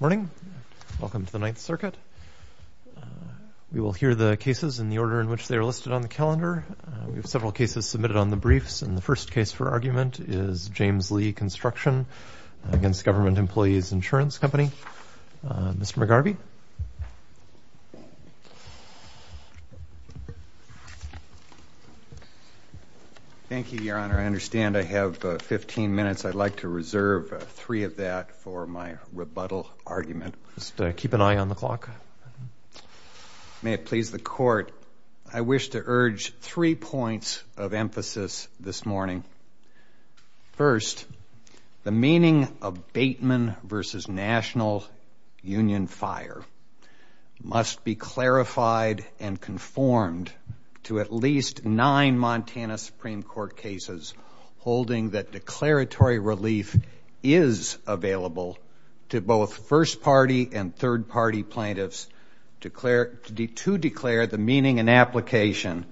Morning. Welcome to the Ninth Circuit. We will hear the cases in the order in which they are listed on the calendar. We have several cases submitted on the briefs, and the first case for argument is James Lee Construction v. Government Employees Insurance Company. Mr. McGarvey. Thank you, Your Honor. I understand I have 15 minutes. I would like to reserve three of that for my rebuttal argument. Just keep an eye on the clock. May it please the Court, I wish to urge three points of emphasis this morning. First, the must be clarified and conformed to at least nine Montana Supreme Court cases holding that declaratory relief is available to both first-party and third-party plaintiffs to declare the meaning and application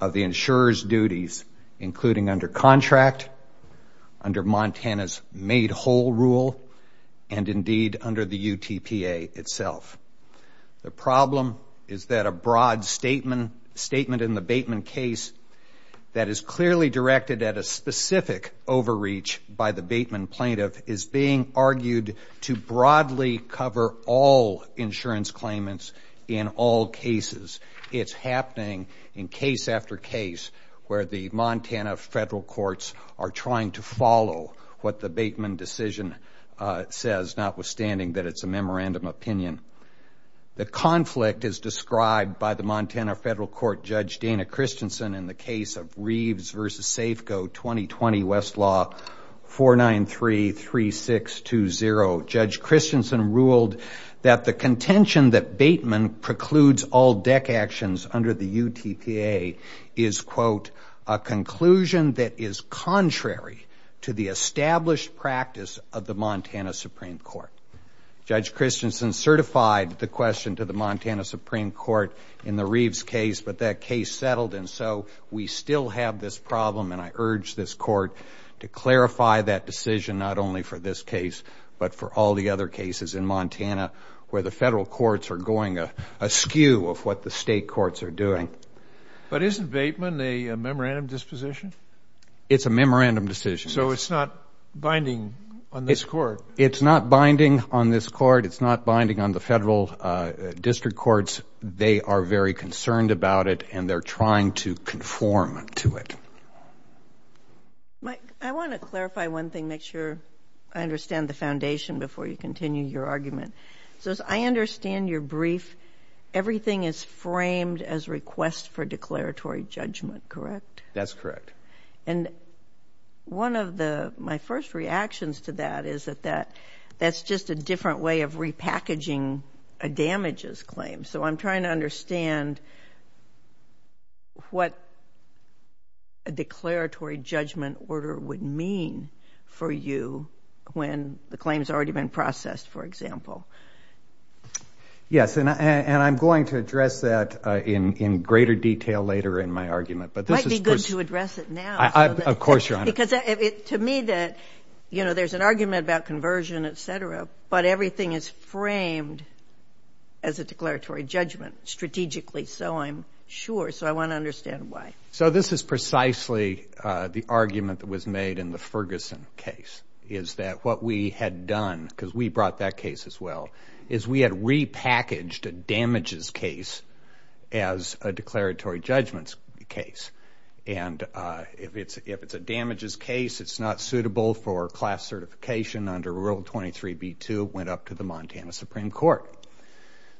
of the insurer's duties, including under contract, under Montana's complete whole rule, and, indeed, under the UTPA itself. The problem is that a broad statement in the Bateman case that is clearly directed at a specific overreach by the Bateman plaintiff is being argued to broadly cover all insurance claimants in all cases. It is happening in case after case where the Montana federal courts are trying to follow what the Bateman decision says, notwithstanding that it's a memorandum opinion. The conflict is described by the Montana federal court Judge Dana Christensen in the case of Reeves v. Safeco, 2020, Westlaw, 4933620. Judge Christensen ruled that the contention that Bateman precludes all deck actions under the UTPA is, quote, a conclusion that is contrary to the established practice of the Montana Supreme Court. Judge Christensen certified the question to the Montana Supreme Court in the Reeves case, but that case settled, and so we still have this problem, and I urge this court to clarify that decision not only for this case but for all the other cases in Montana where the federal courts are going askew of what the state courts are doing. But isn't Bateman a memorandum disposition? It's a memorandum decision. So it's not binding on this court? It's not binding on this court. It's not binding on the federal district courts. They are very concerned about it, and they're trying to conform to it. Mike, I want to clarify one thing, make sure I understand the foundation before you continue your argument. So as I understand your brief, everything is framed as request for declaratory judgment, correct? That's correct. And one of my first reactions to that is that that's just a different way of repackaging a damages claim. So I'm trying to understand what a declaratory judgment order would mean for you when the claim has already been processed, for example. Yes, and I'm going to address that in greater detail later in my argument. It might be good to address it now. Of course, Your Honor. Because to me, there's an argument about conversion, et cetera, but everything is framed as a declaratory judgment strategically, so I'm sure. So I want to understand why. So this is precisely the argument that was made in the Ferguson case, is that what we had done, because we brought that case as well, is we had repackaged a damages case as a declaratory judgments case. And if it's a damages case, it's not suitable for class certification under Rule 23b-2, went up to the Montana Supreme Court.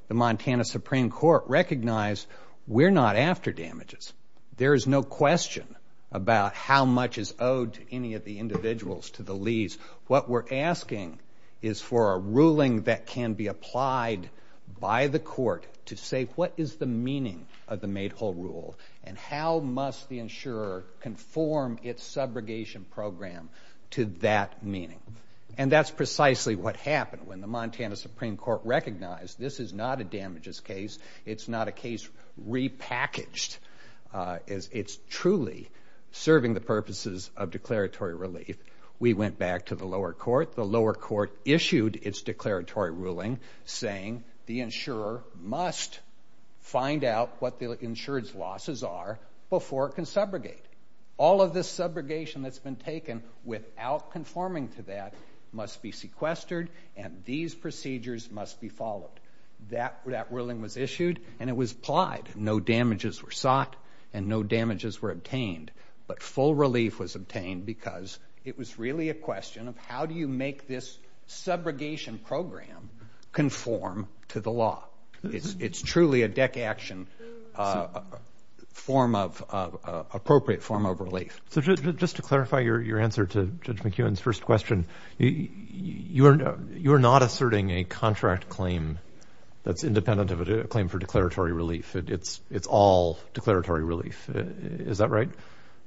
The Montana Supreme Court recognized we're not after damages. There is no question about how much is owed to any of the individuals to the lease. What we're asking is for a ruling that can be applied by the court to say what is the meaning of the made whole rule and how must the insurer conform its subrogation program to that meaning. And that's precisely what happened when the Montana Supreme Court recognized this is not a damages case. It's not a case repackaged. It's truly serving the purposes of declaratory relief. We went back to the lower court. The lower court issued its declaratory ruling saying the insurer must find out what the insured's losses are before it can subrogate. All of this subrogation that's been taken without conforming to that must be sequestered and these procedures must be followed. That ruling was issued and it was applied. No damages were sought and no damages were obtained. But full relief was obtained because it was really a question of how do you make this subrogation program conform to the law. It's truly a deck action appropriate form of relief. Just to clarify your answer to Judge McEwen's first question, you're not asserting a contract claim that's independent of a claim for declaratory relief. It's all declaratory relief. Is that right?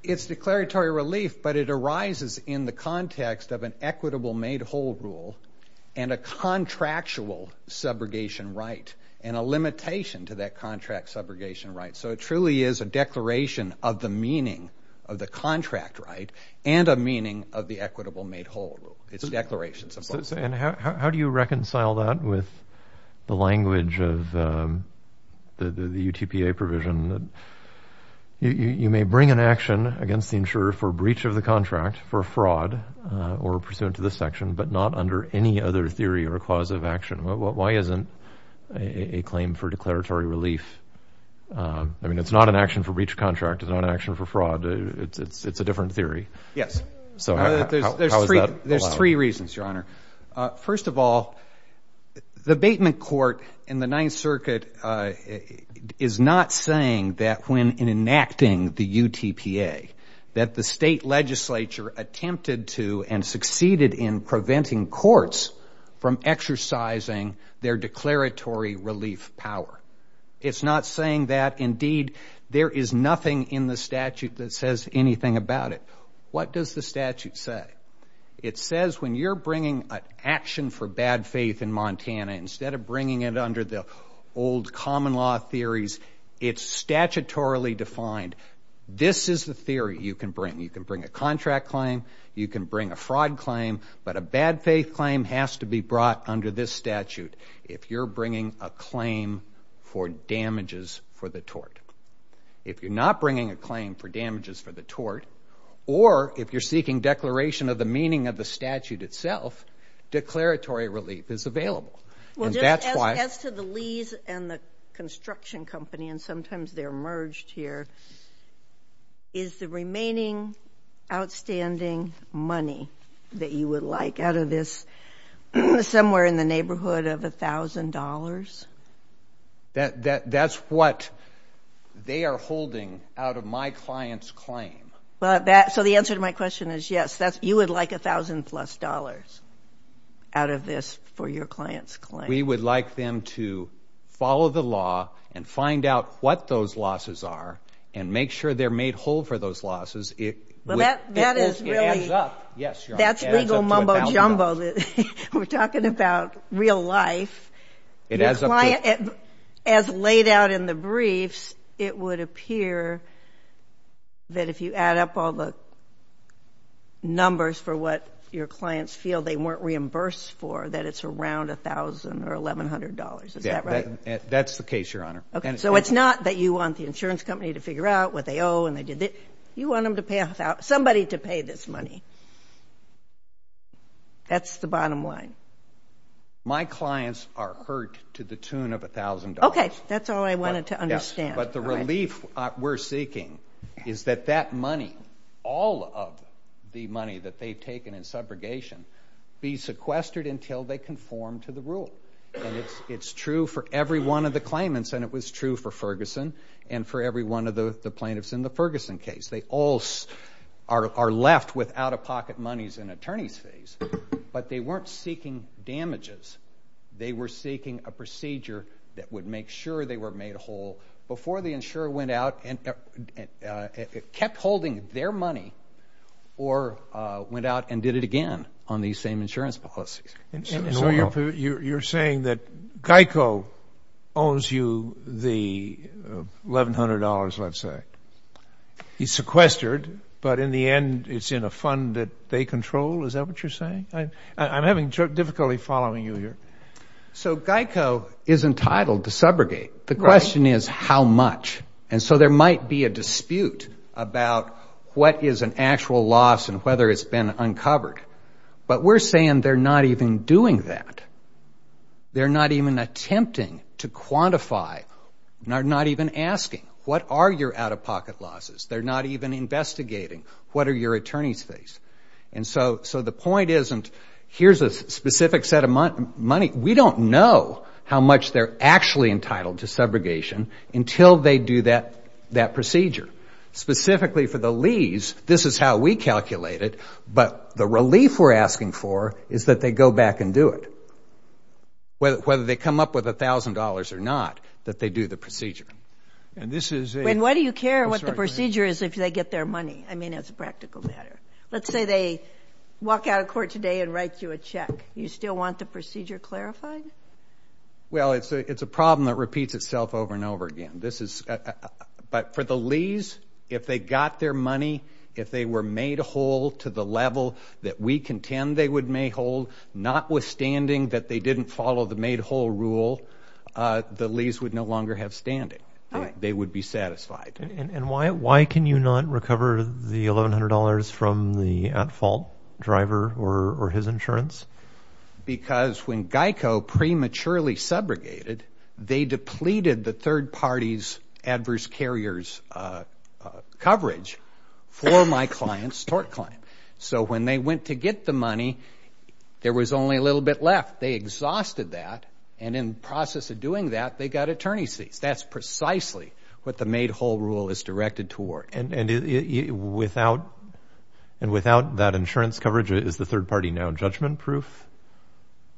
It's declaratory relief but it arises in the context of an equitable made whole rule and a contractual subrogation right and a limitation to that contract subrogation right. So it truly is a declaration of the meaning of the contract right and a meaning of the equitable made whole rule. It's a declaration. How do you reconcile that with the language of the UTPA provision that you may bring an action against the insurer for breach of the contract for fraud or pursuant to this section but not under any other theory or cause of action? Why isn't a claim for declaratory relief? I mean, it's not an action for breach of contract. It's not an action for fraud. It's a different theory. Yes. So how is that? There's three reasons, Your Honor. First of all, the Bateman Court in the Ninth Circuit is not saying that when enacting the UTPA that the state legislature attempted to and preventing courts from exercising their declaratory relief power. It's not saying that, indeed, there is nothing in the statute that says anything about it. What does the statute say? It says when you're bringing an action for bad faith in Montana, instead of bringing it under the old common law theories, it's statutorily defined. This is the theory you can bring. You can bring a contract claim. You can bring a fraud claim. But a bad faith claim has to be brought under this statute if you're bringing a claim for damages for the tort. If you're not bringing a claim for damages for the tort or if you're seeking declaration of the meaning of the statute itself, declaratory relief is available. Well, just as to the Lees and the construction company, and sometimes they're merged here, is the remaining outstanding money that you would like out of this somewhere in the neighborhood of $1,000? That's what they are holding out of my client's claim. So the answer to my question is yes, you would like $1,000 plus out of this for your client's claim. We would like them to follow the law and find out what those losses are and make sure they're made whole for those losses. That's legal mumbo-jumbo. We're talking about real life. As laid out in the briefs, it would appear that if you add up all the numbers for what your clients feel they weren't reimbursed for, that it's around $1,000 or $1,100. Is that right? That's the case, Your Honor. So it's not that you want the insurance company to figure out what they owe and they did this. You want somebody to pay this money. That's the bottom line. My clients are hurt to the tune of $1,000. That's all I wanted to understand. But the relief we're seeking is that that money, all of the money that they've taken in subrogation, be sequestered until they conform to the rule. It's true for every one of the claimants and it was true for Ferguson and for every one of the plaintiffs in the Ferguson case. They all are left with out-of-pocket monies and attorney's fees, but they weren't seeking damages. They were seeking a procedure that would make sure they were made whole before the insurer went out and kept holding their money or went out and did it again on these same insurance policies. And so you're saying that GEICO owns you the $1,100, let's say. It's sequestered, but in the end, it's in a fund that they control. Is that what you're saying? I'm having difficulty following you here. So GEICO is entitled to subrogate. The question is how much. And so there might be a dispute about what is an actual loss and whether it's been uncovered. But we're saying they're not even doing that. They're not even attempting to quantify, not even asking what are your out-of-pocket losses. They're not even investigating what are your attorney's fees. And so the point isn't here's a specific set of money. We don't know how much they're actually entitled to subrogation until they do that procedure. Specifically for the lease, this is how we calculate it, but the relief we're asking for is that they go back and do it. Whether they come up with $1,000 or not, that they do the procedure. And this is a... And why do you care what the procedure is if they get their money? I mean, as a practical matter. Let's say they walk out of court today and write you a check. You still want the procedure clarified? Well, it's a problem that repeats itself over and over again. This is... But for the lease, if they got their money, if they were made whole to the level that we contend they would make whole, notwithstanding that they didn't follow the made whole rule, the lease would no longer have standing. They would be satisfied. And why can you not recover the $1,100 from the at-fault driver or his insurance? Because when GEICO prematurely subrogated, they depleted the third party's adverse carriers coverage for my client's tort client. So when they went to get the money, there was only a little bit left. They exhausted that, and in the process of doing that, they got attorney's fees. That's precisely what the made whole rule is directed toward. And without that insurance coverage, is the third party now judgment-proof?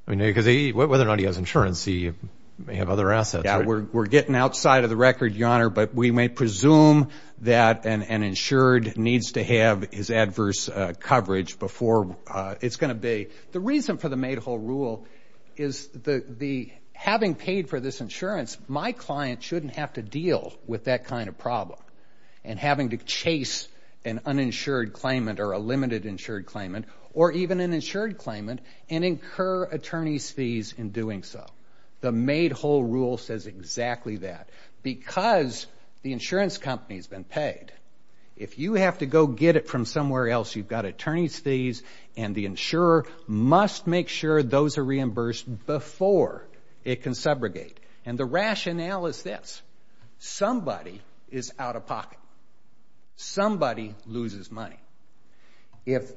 I mean, because whether or not he has insurance, he may have other assets, right? Yeah, we're getting outside of the record, Your Honor, but we may presume that an insured needs to have his adverse coverage before it's going to be. The reason for the made whole rule is having paid for this insurance, my client shouldn't have to deal with that kind of problem, and having to chase an uninsured claimant or a limited insured claimant, or even an insured claimant, and incur attorney's fees in doing so. The made whole rule says exactly that. Because the insurance company's been paid, if you have to go get it from somewhere else, you've got attorney's fees, and the insurer must make sure those are reimbursed before it can subrogate. And the rationale is this. Somebody is out of pocket. Somebody loses money. If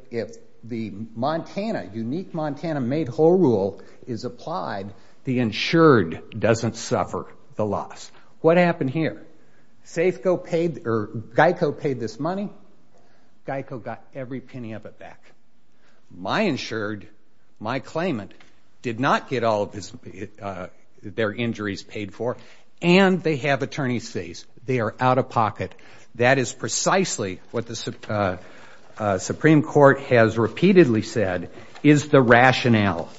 the Montana, unique Montana made whole rule is applied, the insured doesn't suffer the loss. What happened here? SAFECO paid, or GEICO paid this money, GEICO got every penny of it back. My insured, my claimant, did not get all of their injuries paid for, and they have attorney's fees. They are out of pocket. That is precisely what the Supreme Court has repeatedly said is the rationale.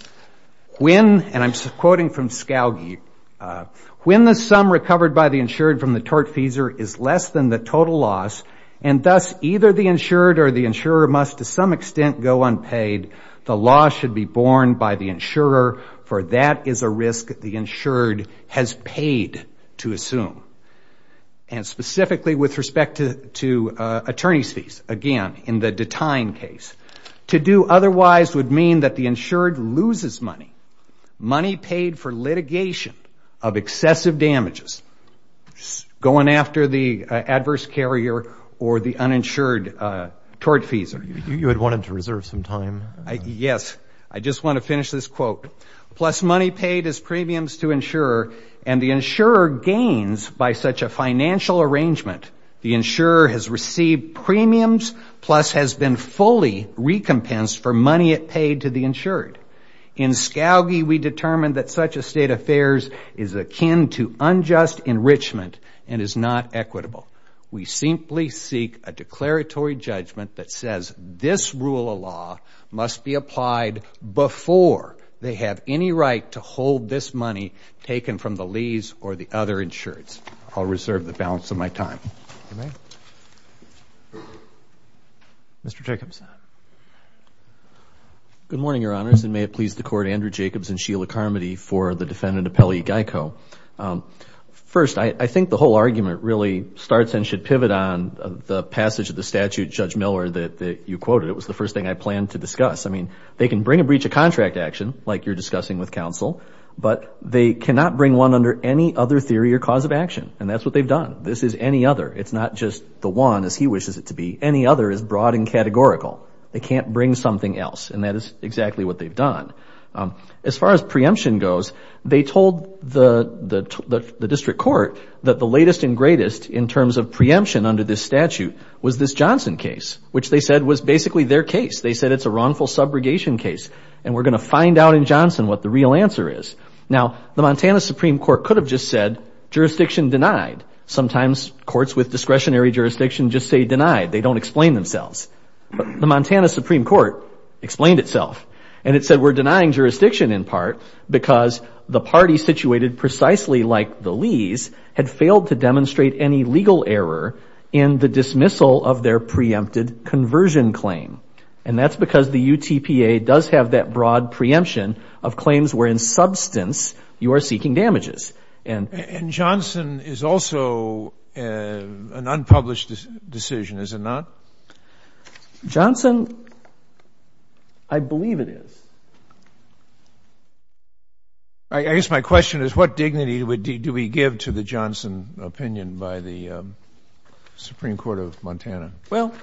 When, and I'm quoting from Scalgi, when the sum recovered by the insured from the tort fees is less than the total loss, and thus either the insured or the insurer must to some extent go unpaid, the loss should be borne by the insurer, for that is a risk the insured has paid to assume. And specifically with respect to attorney's fees, again, in the detain case, to do otherwise would mean that the insured loses money, money paid for litigation of excessive damages, going after the adverse carrier or the uninsured tort fees. You had wanted to reserve some time. Yes. I just want to finish this quote. Plus money paid as premiums to insurer, and the insurer gains by such a financial arrangement, the insurer has received premiums, plus has been fully recompensed for money it paid to the insured. In Scalgi, we determined that such a state affairs is akin to unjust enrichment and is not equitable. We simply seek a declaratory judgment that says this rule of law must be applied before they have any right to hold this money taken from the lees or the other insureds. I'll reserve the balance of my time. Mr. Jacobson. Good morning, Your Honors, and may it please the Court, Andrew Jacobs and Sheila Carmody for the defendant, Apelli Geico. First, I think the whole argument really starts and should pivot on the passage of the statute, Judge Miller, that you quoted. It was the first thing I planned to discuss. I mean, they can bring a breach of contract action, like you're discussing with counsel, but they cannot bring one under any other theory or cause of action, and that's what they've done. This is any other. It's not just the one, as he wishes it to be. Any other is broad and categorical. They can't bring something else, and that is exactly what they've done. As far as preemption goes, they told the district court that the latest and greatest in terms of preemption under this statute was this Johnson case, which they said was basically their case. They said it's a wrongful subrogation case, and we're going to find out in Johnson what the real answer is. Now, the Montana Supreme Court could have just said jurisdiction denied. Sometimes courts with discretionary jurisdiction just say denied. They don't explain themselves. The Montana Supreme Court explained itself, and it said we're denying jurisdiction in part because the party situated precisely like the Lees had failed to demonstrate any legal error in the dismissal of their preempted conversion claim, and that's because the UTPA does have that broad preemption of claims wherein substance you are seeking damages. And — And Johnson is also an unpublished decision, is it not? Johnson, I believe it is. I guess my question is, what dignity do we give to the Johnson opinion by the Supreme Court of Montana? Well,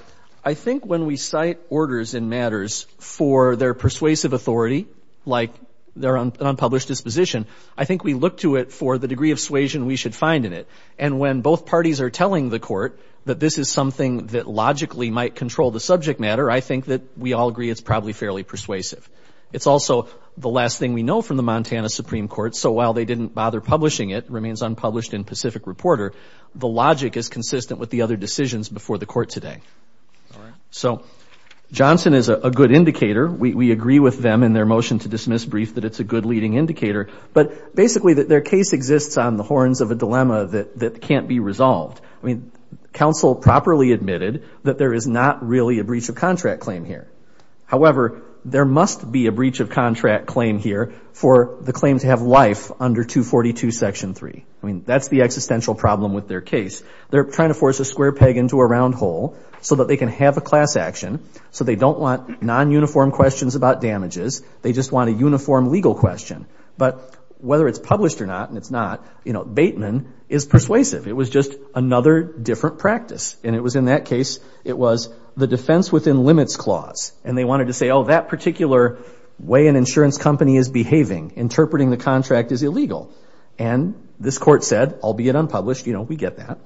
I think when we cite orders in matters for their persuasive authority, like their unpublished disposition, I think we look to it for the degree of suasion we should find in it. And when both parties are telling the court that this is something that logically might control the subject matter, I think that we all agree it's probably fairly persuasive. It's also the last thing we know from the Montana Supreme Court. So while they didn't bother publishing it, it remains unpublished in Pacific Reporter, the logic is consistent with the other decisions before the court today. So Johnson is a good indicator. We agree with them in their motion to dismiss brief that it's a good leading indicator. But basically, their case exists on the horns of a dilemma that can't be resolved. I mean, counsel properly admitted that there is not really a breach of contract claim here. However, there must be a breach of contract claim here for the claim to have life under 242, Section 3. I mean, that's the existential problem with their case. They're trying to force a square peg into a round hole so that they can have a class action so they don't want non-uniform questions about damages. They just want a uniform legal question. But whether it's published or not, and it's not, you know, Bateman is persuasive. It was just another different practice. And it was in that case, it was the defense within limits clause. And they wanted to say, oh, that particular way an insurance company is behaving, interpreting the contract is illegal. And this court said, albeit unpublished, you know, we get that.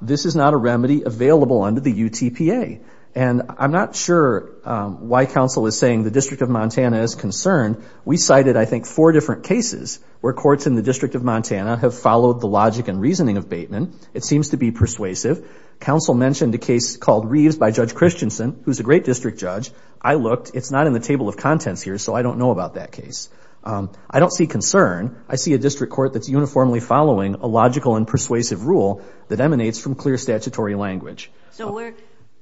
This is not a remedy available under the UTPA. And I'm not sure why counsel is saying the District of Montana is concerned. We cited, I think, four different cases where courts in the District of Montana have followed the logic and reasoning of Bateman. It seems to be persuasive. Counsel mentioned a case called Reeves by Judge Christensen, who's a great district judge. I looked. It's not in the table of contents here, so I don't know about that case. I don't see concern. I see a district court that's uniformly following a logical and persuasive rule that emanates from clear statutory language. So where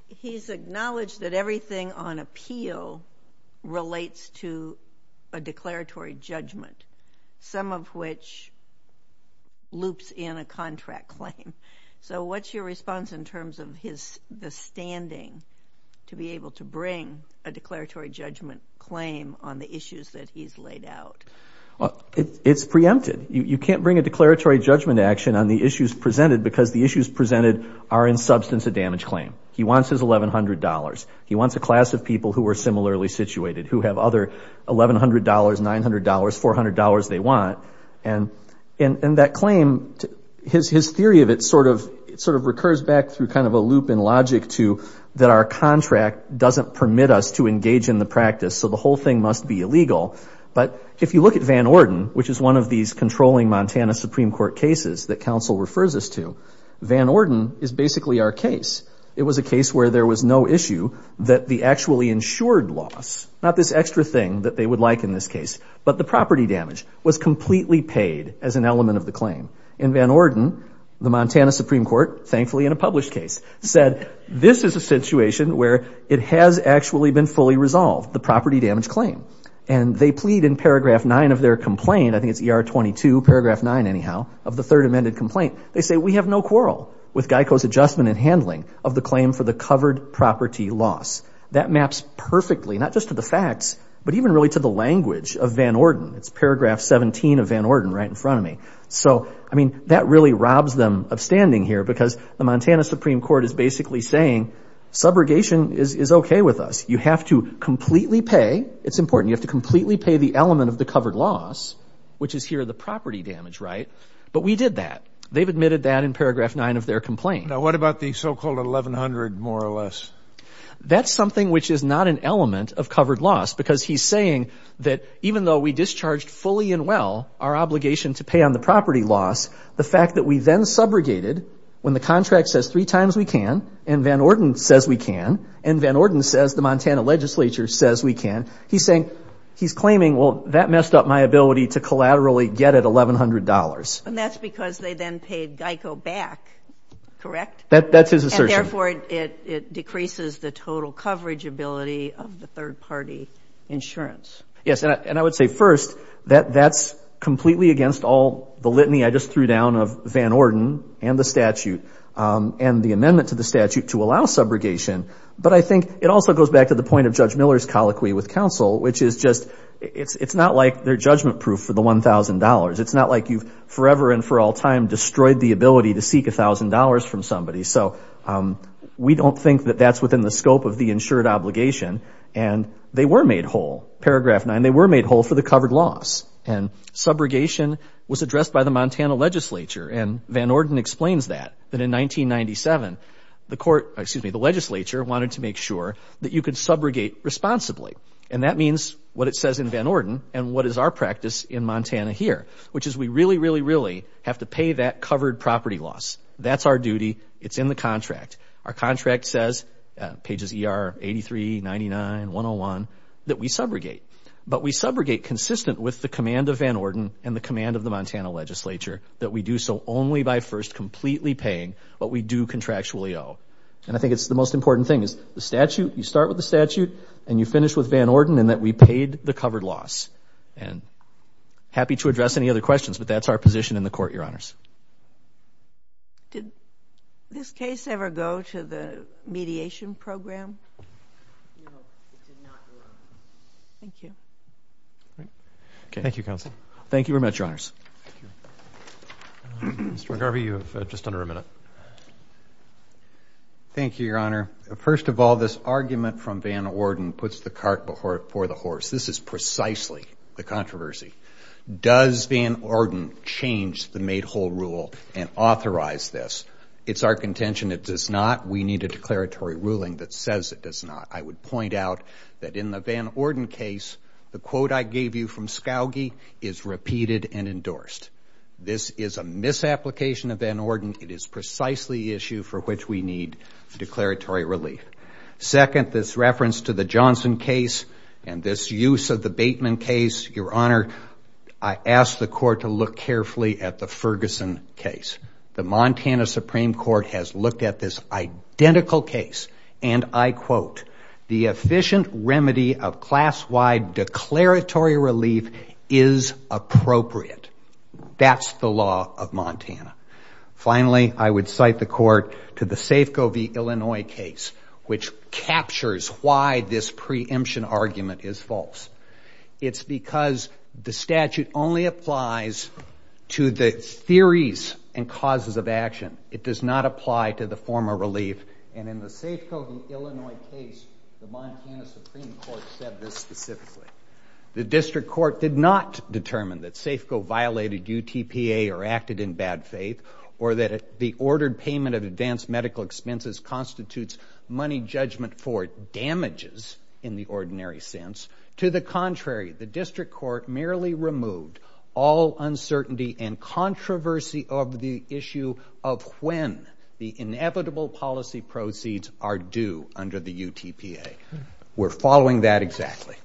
he's acknowledged that everything on appeal relates to a declaratory judgment, some of which loops in a contract claim. So what's your response in terms of his, the standing to be able to bring a declaratory judgment claim on the issues that he's laid out? It's preempted. You can't bring a declaratory judgment action on the issues presented because the issues presented are in substance a damage claim. He wants his $1,100. He wants a class of people who are similarly situated, who have other $1,100, $900, $400 they want. And that claim, his theory of it sort of recurs back through kind of a loop in logic to that our contract doesn't permit us to engage in the practice, so the whole thing must be illegal. But if you look at Van Orden, which is one of these controlling Montana Supreme Court cases that counsel refers us to, Van Orden is basically our case. It was a case where there was no issue that the actually insured loss, not this extra thing that they would like in this case, but the property damage was completely paid as an element of the claim. In Van Orden, the Montana Supreme Court, thankfully in a published case, said this is a situation where it has actually been fully resolved, the property damage claim. And they plead in paragraph 9 of their complaint, I think it's ER 22, paragraph 9 anyhow, of the third amended complaint. They say, we have no quarrel with GEICO's adjustment in handling of the claim for the covered property loss. That maps perfectly, not just to the facts, but even really to the language of Van Orden. It's paragraph 17 of Van Orden right in front of me. So I mean, that really robs them of standing here because the Montana Supreme Court is basically saying, subrogation is okay with us. You have to completely pay. It's important. You have to completely pay the element of the covered loss, which is here the property damage, right? But we did that. They've admitted that in paragraph 9 of their complaint. Now, what about the so-called 1100 more or less? That's something which is not an element of covered loss because he's saying that even though we discharged fully and well our obligation to pay on the property loss, the fact that we then subrogated when the contract says three times we can and Van Orden says we can and Van Orden says the Montana legislature says we can. He's saying, he's claiming, well, that messed up my ability to collaterally get at $1100. And that's because they then paid GEICO back, correct? That's his assertion. And therefore, it decreases the total coverage ability of the third party insurance. Yes, and I would say first that that's completely against all the litany I just threw down of Van Orden and the statute and the amendment to the statute to allow subrogation. But I think it also goes back to the point of Judge Miller's colloquy with counsel, which is just, it's not like they're judgment-proof for the $1000. It's not like you've forever and for all time destroyed the ability to seek $1000 from somebody. So we don't think that that's within the scope of the insured obligation. And they were made whole, paragraph 9, they were made whole for the covered loss. And subrogation was addressed by the Montana legislature. And Van Orden explains that, that in 1997, the court, excuse me, the legislature wanted to make sure that you could subrogate responsibly. And that means what it says in Van Orden and what is our practice in Montana here, which is we really, really, really have to pay that covered property loss. That's our duty. It's in the contract. Our contract says, pages ER 83, 99, 101, that we subrogate. But we subrogate consistent with the command of Van Orden and the command of the Montana legislature that we do so only by first completely paying what we do contractually owe. And I think it's the most important thing, is the statute, you start with the statute and you finish with Van Orden and that we paid the covered loss. And happy to address any other questions, but that's our position in the court, Your Honors. Did this case ever go to the mediation program? No, it did not go up. Thank you. Great. Thank you, Counsel. Thank you very much, Your Honors. Thank you. Mr. McGarvey, you have just under a minute. Thank you, Your Honor. First of all, this argument from Van Orden puts the cart before the horse. This is precisely the controversy. Does Van Orden change the made whole rule and authorize this? It's our contention it does not. We need a declaratory ruling that says it does not. I would point out that in the Van Orden case, the quote I gave you from Scalgi is repeated and endorsed. This is a misapplication of Van Orden. It is precisely the issue for which we need declaratory relief. Second, this reference to the Johnson case and this use of the Bateman case, Your Honor, I ask the court to look carefully at the Ferguson case. The Montana Supreme Court has looked at this identical case and I quote, the efficient remedy of class-wide declaratory relief is appropriate. That's the law of Montana. Finally, I would cite the court to the Safeco v. Illinois case, which captures why this preemption argument is false. It's because the statute only applies to the theories and causes of action. It does not apply to the form of relief. And in the Safeco v. Illinois case, the Montana Supreme Court said this specifically. The district court did not determine that Safeco violated UTPA or acted in bad faith or that the ordered payment of advanced medical expenses constitutes money judgment for damages in the ordinary sense. To the contrary, the district court merely removed all uncertainty and controversy of the issue of when the inevitable policy proceeds are due under the UTPA. We're following that exactly.